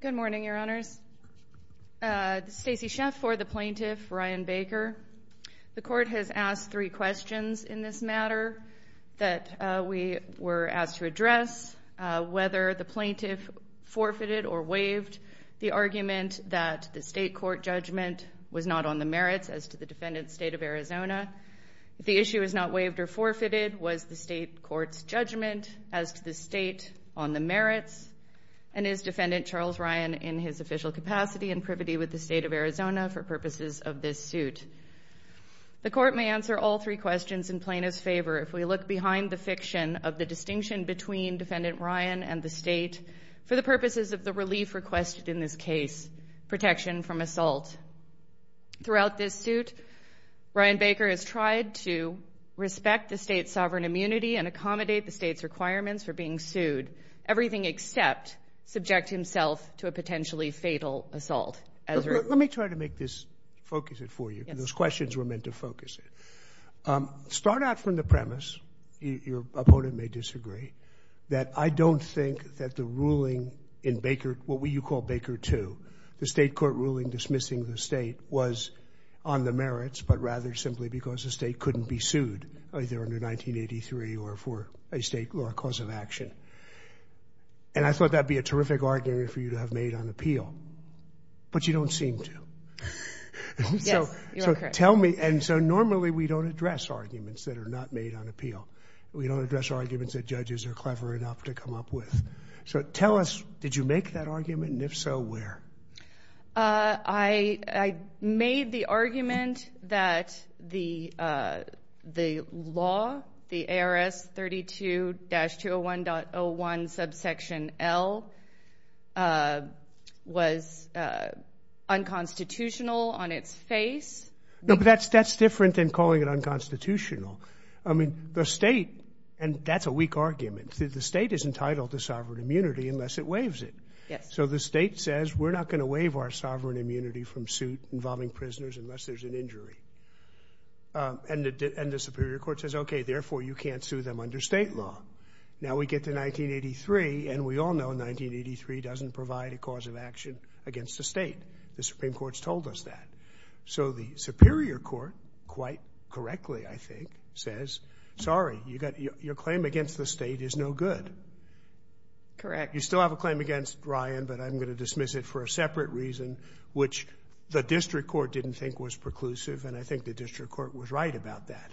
Good morning, Your Honors. This is Stacey Sheff for the plaintiff, Ryan Baker. The court has asked three questions in this matter that we were asked to address. Whether the plaintiff forfeited or waived the argument that the state court judgment was not on the merits as to the defendant's state of Arizona. If the issue is not waived or forfeited, was the state court's judgment as to the state on the merits? And is defendant Charles Ryan in his official capacity and privity with the state of Arizona for purposes of this suit? The court may answer all three questions in plaintiff's favor if we look behind the fiction of the distinction between defendant Ryan and the state for the purposes of the relief requested in this case, protection from assault. Throughout this suit, Ryan Baker has tried to respect the state's sovereign immunity and accommodate the state's requirements for being sued. Everything except subject himself to a potentially fatal assault. Let me try to make this, focus it for you. Those questions were meant to focus it. Start out from the premise, your opponent may disagree, that I don't think that the ruling in Baker, what you call Baker 2, the state court ruling dismissing the state was on the merits but rather simply because the state couldn't be sued either under 1983 or for a state or a cause of action. And I thought that would be a terrific argument for you to have made on appeal. But you don't seem to. So tell me. And so normally we don't address arguments that are not made on appeal. We don't address arguments that judges are clever enough to come up with. So tell us, did you make that argument? And if so, where? I made the argument that the law, the ARS 32-201.01 subsection L was unconstitutional on its face. No, but that's different than calling it unconstitutional. I mean, the state, and that's a weak argument, the state is entitled to sovereign immunity unless it waives it. Yes. So the state says, we're not going to waive our sovereign immunity from suit involving prisoners unless there's an injury. And the superior court says, okay, therefore you can't sue them under state law. Now we get to 1983, and we all know 1983 doesn't provide a cause of action against the state. The Supreme Court's told us that. So the superior court, quite correctly, I think, says, sorry, your claim against the state is no good. Correct. You still have a claim against Ryan, but I'm going to dismiss it for a separate reason, which the district court didn't think was preclusive, and I think the district court was right about that.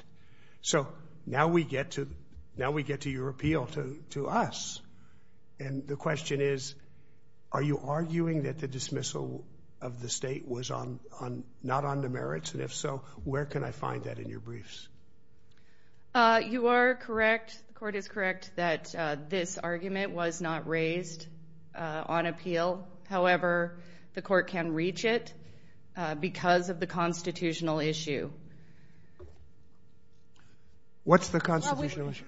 So now we get to your appeal to us. And the question is, are you arguing that the dismissal of the state was not on the merits? And if so, where can I find that in your briefs? You are correct. The court is correct that this argument was not raised on appeal. However, the court can reach it because of the constitutional issue. What's the constitutional issue?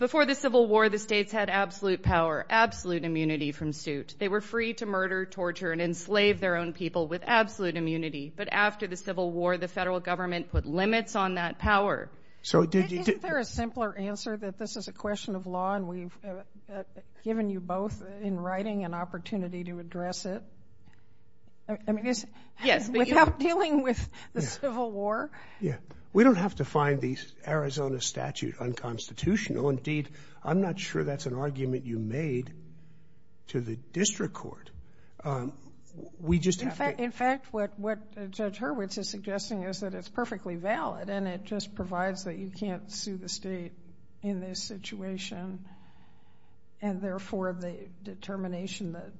Before the Civil War, the states had absolute power, absolute immunity from suit. They were free to murder, torture, and enslave their own people with absolute immunity. But after the Civil War, the federal government put limits on that power. Isn't there a simpler answer that this is a question of law, and we've given you both in writing an opportunity to address it without dealing with the Civil War? Yeah. We don't have to find the Arizona statute unconstitutional. Indeed, I'm not sure that's an argument you made to the district court. We just have to— In fact, what Judge Hurwitz is suggesting is that it's perfectly valid, and it just provides that you can't sue the state in this situation, and therefore the determination that—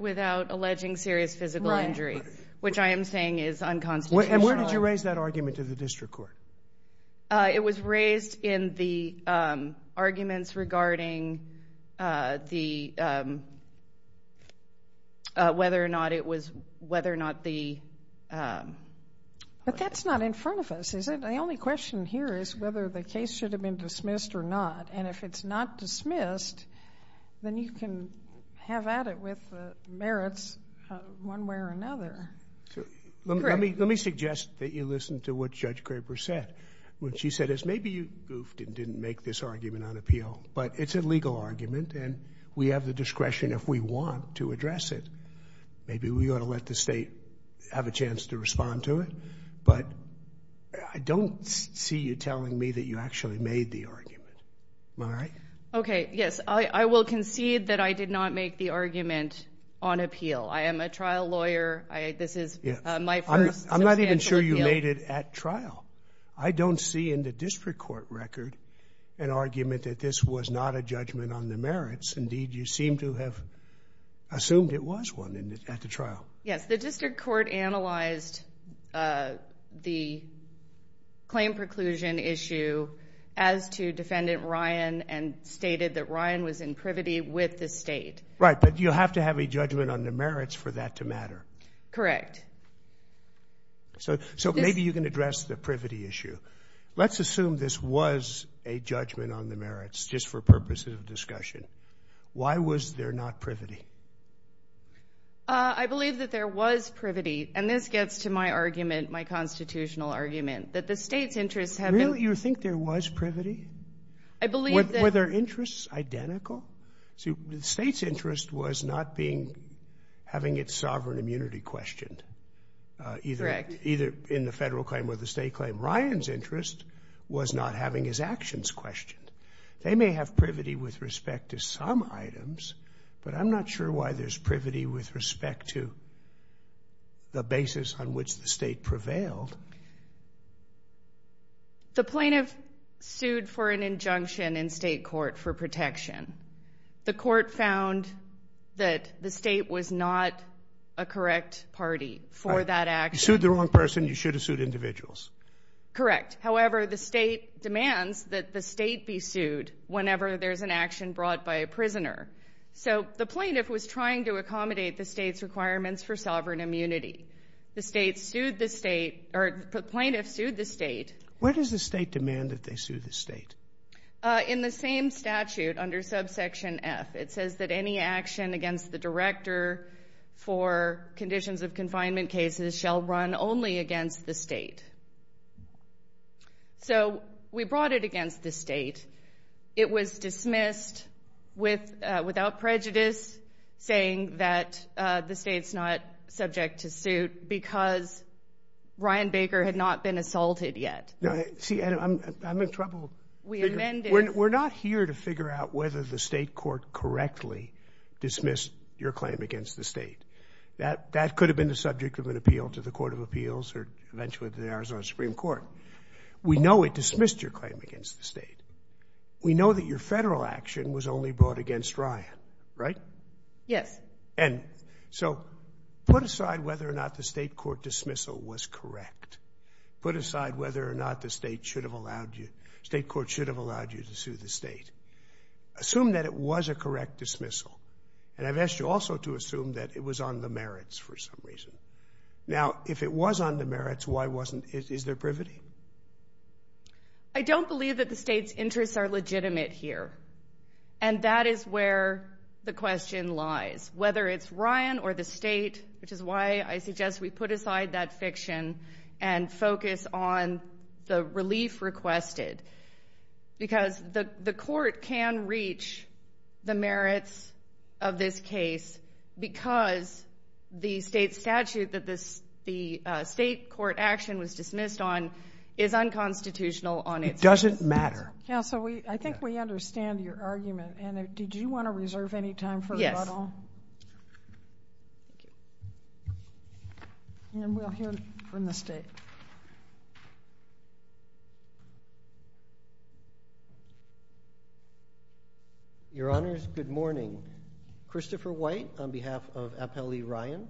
Without alleging serious physical injury, which I am saying is unconstitutional. And where did you raise that argument to the district court? It was raised in the arguments regarding whether or not it was—whether or not the— But that's not in front of us, is it? The only question here is whether the case should have been dismissed or not. And if it's not dismissed, then you can have at it with the merits one way or another. Let me suggest that you listen to what Judge Craper said. What she said is maybe you goofed and didn't make this argument on appeal, but it's a legal argument, and we have the discretion if we want to address it. Maybe we ought to let the state have a chance to respond to it, but I don't see you telling me that you actually made the argument. Am I right? Okay, yes. I will concede that I did not make the argument on appeal. I am a trial lawyer. This is my first substantial appeal. I'm not even sure you made it at trial. I don't see in the district court record an argument that this was not a judgment on the merits. Indeed, you seem to have assumed it was one at the trial. Yes. The district court analyzed the claim preclusion issue as to Defendant Ryan and stated that Ryan was in privity with the state. Right. But you have to have a judgment on the merits for that to matter. Correct. So maybe you can address the privity issue. Let's assume this was a judgment on the merits just for purposes of discussion. Why was there not privity? I believe that there was privity, and this gets to my argument, my constitutional argument, that the state's interests have been... Really? You think there was privity? I believe that... Were their interests identical? See, the state's interest was not having its sovereign immunity questioned. Correct. Either in the federal claim or the state claim. Ryan's interest was not having his actions questioned. They may have privity with respect to some items, but I'm not sure why there's privity with respect to the basis on which the state prevailed. The plaintiff sued for an injunction in state court for protection. The court found that the state was not a correct party for that action. You sued the wrong person. You should have sued individuals. Correct. However, the state demands that the state be sued whenever there's an action brought by a prisoner. So the plaintiff was trying to accommodate the state's requirements for sovereign immunity. The plaintiff sued the state. Where does the state demand that they sue the state? In the same statute under subsection F. It says that any action against the director for conditions of confinement cases shall run only against the state. So we brought it against the state. It was dismissed without prejudice, saying that the state's not subject to suit because Ryan Baker had not been assaulted yet. See, I'm in trouble. We're not here to figure out whether the state court correctly dismissed your claim against the state. That could have been the subject of an appeal to the Court of Appeals or eventually to the Arizona Supreme Court. We know it dismissed your claim against the state. We know that your federal action was only brought against Ryan, right? Yes. And so put aside whether or not the state court dismissal was correct. Put aside whether or not the state court should have allowed you to sue the state. Assume that it was a correct dismissal. And I've asked you also to assume that it was on the merits for some reason. Now, if it was on the merits, why wasn't it? Is there privity? I don't believe that the state's interests are legitimate here. And that is where the question lies. Whether it's Ryan or the state, which is why I suggest we put aside that fiction and focus on the relief requested. Because the court can reach the merits of this case because the state statute that the state court action was dismissed on is unconstitutional on its part. It doesn't matter. Counsel, I think we understand your argument. And did you want to reserve any time for rebuttal? Yes. Thank you. And we'll hear from the state. Your Honors, good morning. Christopher White on behalf of Appellee Ryan,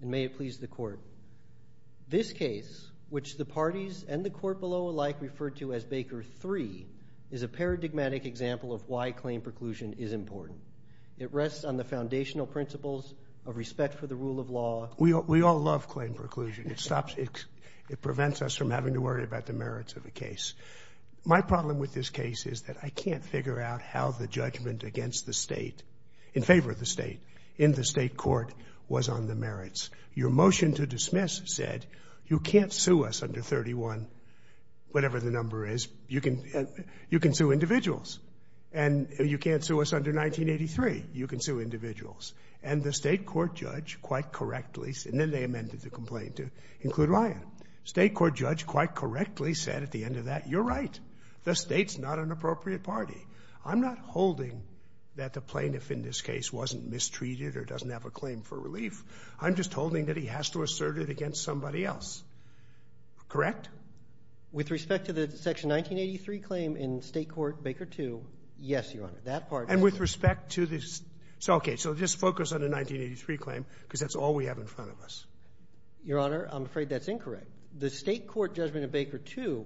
and may it please the court. This case, which the parties and the court below alike referred to as Baker 3, is a paradigmatic example of why claim preclusion is important. It rests on the foundational principles of respect for the rule of law. We all love claim preclusion. It prevents us from having to worry about the merits of a case. My problem with this case is that I can't figure out how the judgment against the state, in favor of the state, in the state court, was on the merits. Your motion to dismiss said you can't sue us under 31, whatever the number is. You can sue individuals. And you can't sue us under 1983. You can sue individuals. And the state court judge quite correctly, and then they amended the complaint to include Ryan. State court judge quite correctly said at the end of that, you're right. The state's not an appropriate party. I'm not holding that the plaintiff in this case wasn't mistreated or doesn't have a claim for relief. I'm just holding that he has to assert it against somebody else. Correct? With respect to the Section 1983 claim in State Court Baker 2, yes, Your Honor. And with respect to this? Okay, so just focus on the 1983 claim because that's all we have in front of us. Your Honor, I'm afraid that's incorrect. The state court judgment in Baker 2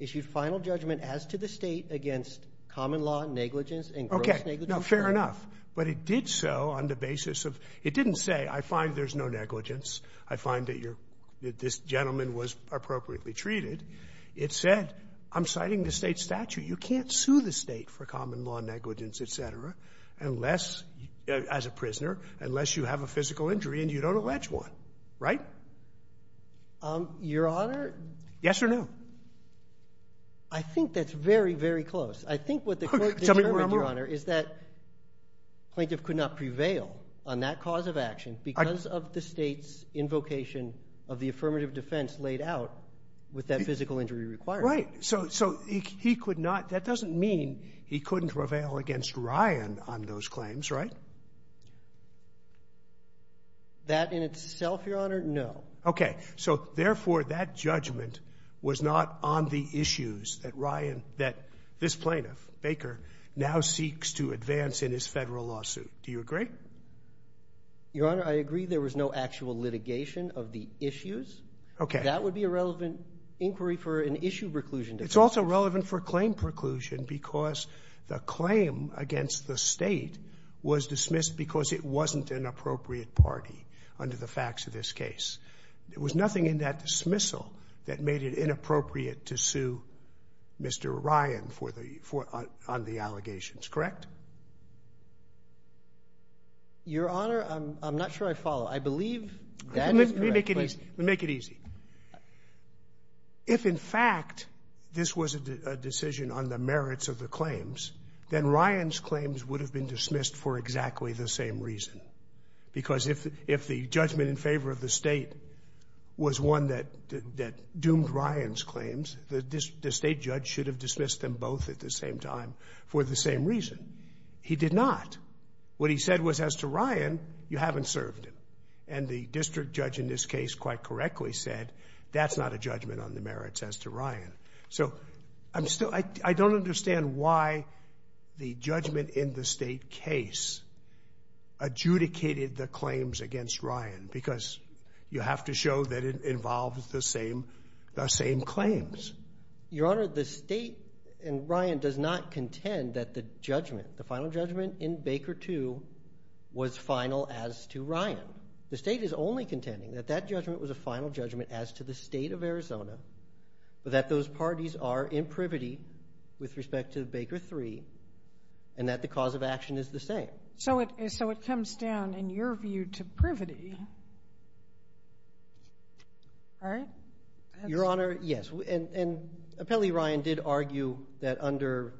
issued final judgment as to the state against common law negligence and gross negligence. Okay. No, fair enough. But it did so on the basis of it didn't say I find there's no negligence, I find that this gentleman was appropriately treated. It said I'm citing the state statute. You can't sue the state for common law negligence, et cetera, unless, as a prisoner, unless you have a physical injury and you don't allege one. Right? Your Honor. Yes or no? I think that's very, very close. I think what the court determined, Your Honor, is that plaintiff could not prevail on that cause of action because of the state's invocation of the affirmative defense laid out with that physical injury requirement. Right. So he could not – that doesn't mean he couldn't prevail against Ryan on those That in itself, Your Honor, no. Okay. So, therefore, that judgment was not on the issues that Ryan – that this plaintiff, Baker, now seeks to advance in his Federal lawsuit. Do you agree? Your Honor, I agree there was no actual litigation of the issues. Okay. That would be a relevant inquiry for an issue preclusion defense. It's also relevant for claim preclusion because the claim against the state was party under the facts of this case. There was nothing in that dismissal that made it inappropriate to sue Mr. Ryan for the – on the allegations. Correct? Your Honor, I'm not sure I follow. I believe that is correct. Let me make it easy. Let me make it easy. If, in fact, this was a decision on the merits of the claims, then Ryan's claims would have been dismissed for exactly the same reason. Because if the judgment in favor of the state was one that doomed Ryan's claims, the state judge should have dismissed them both at the same time for the same reason. He did not. What he said was, as to Ryan, you haven't served him. And the district judge in this case quite correctly said, that's not a judgment on the merits as to Ryan. So I'm still – I don't understand why the judgment in the state case adjudicated the claims against Ryan because you have to show that it involves the same claims. Your Honor, the state in Ryan does not contend that the judgment, the final judgment in Baker 2, was final as to Ryan. The state is only contending that that judgment was a final judgment as to the parties are in privity with respect to Baker 3 and that the cause of action is the same. So it comes down, in your view, to privity, right? Your Honor, yes. And apparently Ryan did argue that under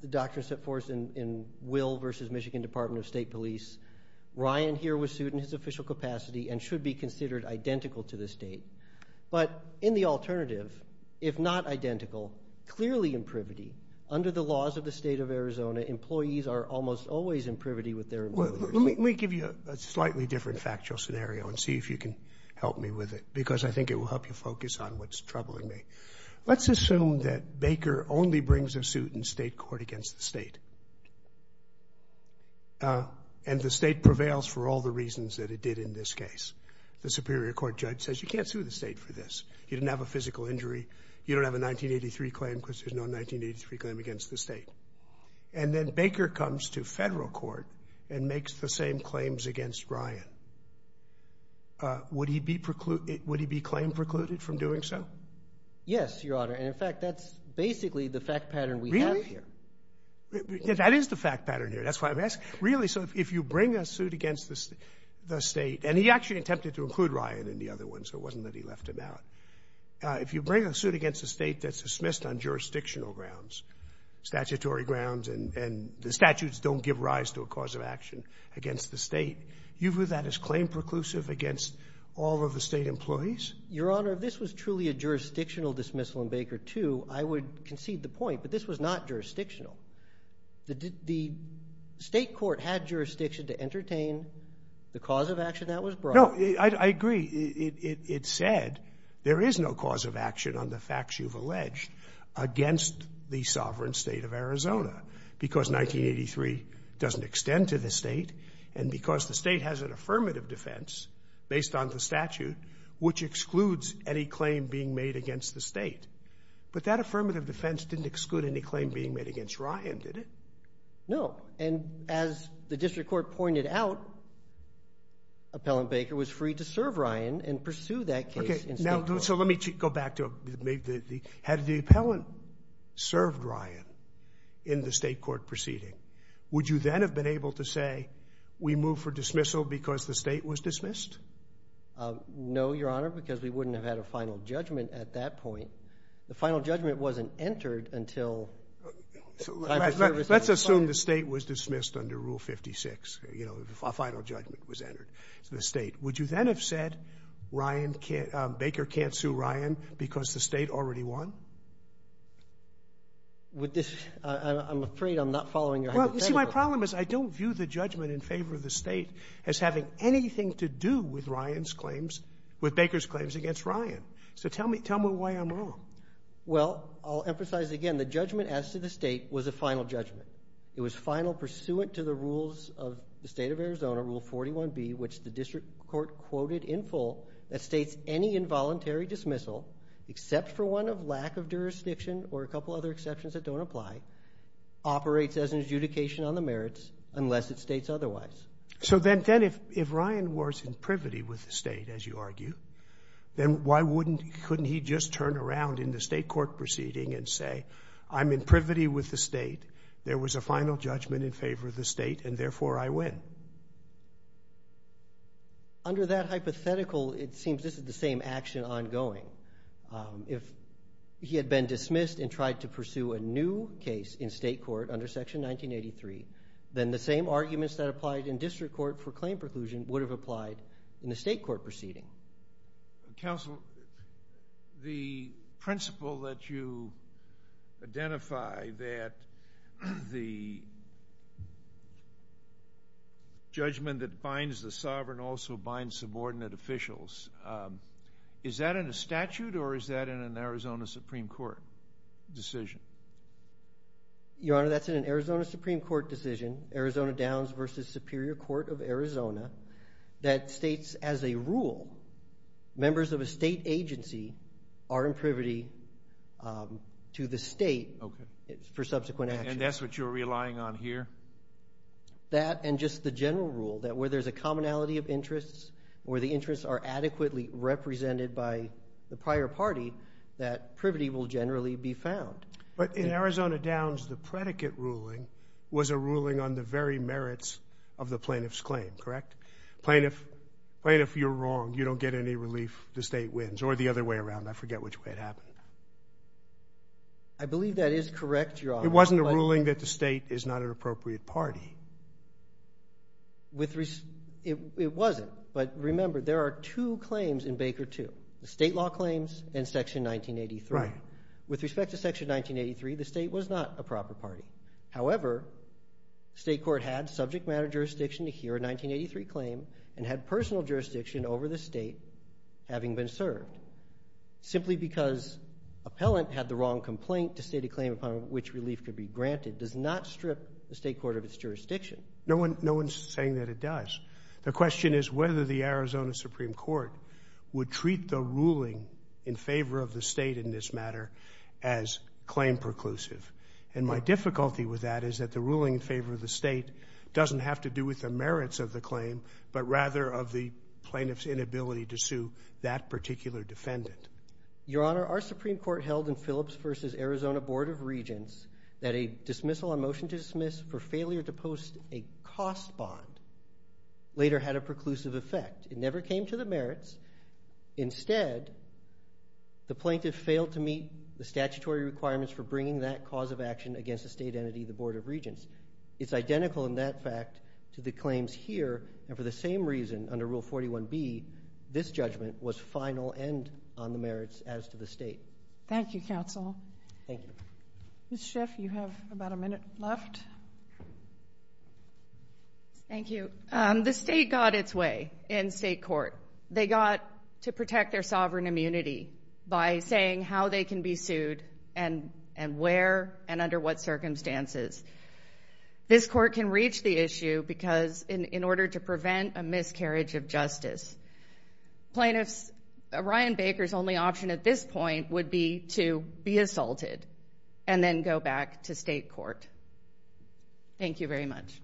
the doctrine set forth in Will v. Michigan Department of State Police, Ryan here was sued in his official capacity and should be considered identical to the state. But in the alternative, if not identical, clearly in privity, under the laws of the state of Arizona, employees are almost always in privity with their employers. Let me give you a slightly different factual scenario and see if you can help me with it, because I think it will help you focus on what's troubling me. Let's assume that Baker only brings a suit in state court against the state, and the state prevails for all the reasons that it did in this case. The superior court judge says you can't sue the state for this. You didn't have a physical injury. You don't have a 1983 claim because there's no 1983 claim against the state. And then Baker comes to federal court and makes the same claims against Ryan. Would he be claim precluded from doing so? Yes, Your Honor. And, in fact, that's basically the fact pattern we have here. Really? That is the fact pattern here. That's why I'm asking. Really, so if you bring a suit against the state, and he actually attempted to include Ryan in the other ones, so it wasn't that he left him out. If you bring a suit against a state that's dismissed on jurisdictional grounds, statutory grounds, and the statutes don't give rise to a cause of action against the state, you view that as claim preclusive against all of the state employees? Your Honor, if this was truly a jurisdictional dismissal in Baker II, I would concede the point, but this was not jurisdictional. The state court had jurisdiction to entertain the cause of action that was brought. No, I agree. It said there is no cause of action on the facts you've alleged against the sovereign state of Arizona because 1983 doesn't extend to the state and because the state has an affirmative defense based on the statute, which excludes any claim being made against the state. But that affirmative defense didn't exclude any claim being made against Ryan, did it? No, and as the district court pointed out, Appellant Baker was free to serve Ryan and pursue that case in state court. Okay, so let me go back to it. Had the appellant served Ryan in the state court proceeding, would you then have been able to say we move for dismissal because the state was dismissed? No, Your Honor, because we wouldn't have had a final judgment at that point. The final judgment wasn't entered until the appellant served Ryan. Let's assume the state was dismissed under Rule 56. You know, a final judgment was entered to the state. Would you then have said Ryan can't – Baker can't sue Ryan because the state already won? Would this – I'm afraid I'm not following your hypothetical. Well, you see, my problem is I don't view the judgment in favor of the state as having anything to do with Ryan's claims – with Baker's claims against Ryan. So tell me why I'm wrong. Well, I'll emphasize it again. The judgment as to the state was a final judgment. It was final pursuant to the rules of the state of Arizona, Rule 41B, which the district court quoted in full that states any involuntary dismissal, except for one of lack of jurisdiction or a couple other exceptions that don't apply, operates as an adjudication on the merits unless it states otherwise. So then if Ryan was in privity with the state, as you argue, then why wouldn't – couldn't he just turn around in the state court proceeding and say, I'm in privity with the state, there was a final judgment in favor of the state, and therefore I win? Under that hypothetical, it seems this is the same action ongoing. If he had been dismissed and tried to pursue a new case in state court under Section 1983, then the same arguments that applied in district court for claim preclusion would have applied in the state court proceeding. Counsel, the principle that you identify, that the judgment that binds the sovereign also binds subordinate officials, is that in a statute or is that in an Arizona Supreme Court decision? Your Honor, that's in an Arizona Supreme Court decision, Arizona Downs versus Superior Court of Arizona, that states as a rule, members of a state agency are in privity to the state for subsequent action. And that's what you're relying on here? That and just the general rule, that where there's a commonality of interests or the interests are adequately represented by the prior party, that privity will generally be found. But in Arizona Downs, the predicate ruling was a ruling on the very merits of the plaintiff's claim, correct? Plaintiff, you're wrong. You don't get any relief. The state wins. Or the other way around. I forget which way it happened. I believe that is correct, Your Honor. It wasn't a ruling that the state is not an appropriate party. It wasn't. But remember, there are two claims in Baker II, the state law claims and Section 1983. Right. With respect to Section 1983, the state was not a proper party. However, state court had subject matter jurisdiction to hear a 1983 claim and had personal jurisdiction over the state having been served. Simply because appellant had the wrong complaint to state a claim upon which relief could be granted does not strip the state court of its jurisdiction. No one's saying that it does. The question is whether the Arizona Supreme Court would treat the ruling in favor of the state in this matter as claim preclusive. And my difficulty with that is that the ruling in favor of the state doesn't have to do with the merits of the claim, but rather of the plaintiff's inability to sue that particular defendant. Your Honor, our Supreme Court held in Phillips v. Arizona Board of Regents that a dismissal on motion to dismiss for failure to post a cost bond later had a preclusive effect. It never came to the merits. Instead, the plaintiff failed to meet the statutory requirements for bringing that cause of action against a state entity, the Board of Regents. It's identical in that fact to the claims here. And for the same reason, under Rule 41b, this judgment was final and on the merits as to the state. Thank you, counsel. Thank you. Ms. Schiff, you have about a minute left. Thank you. The state got its way in state court. They got to protect their sovereign immunity by saying how they can be sued and where and under what circumstances. This court can reach the issue because in order to prevent a miscarriage of justice, plaintiffs, Ryan Baker's only option at this point would be to be assaulted and then go back to state court. Thank you very much.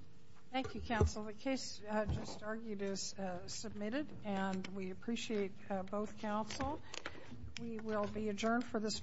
Thank you, counsel. Well, the case just argued is submitted and we appreciate both counsel. We will be adjourned for this morning's session.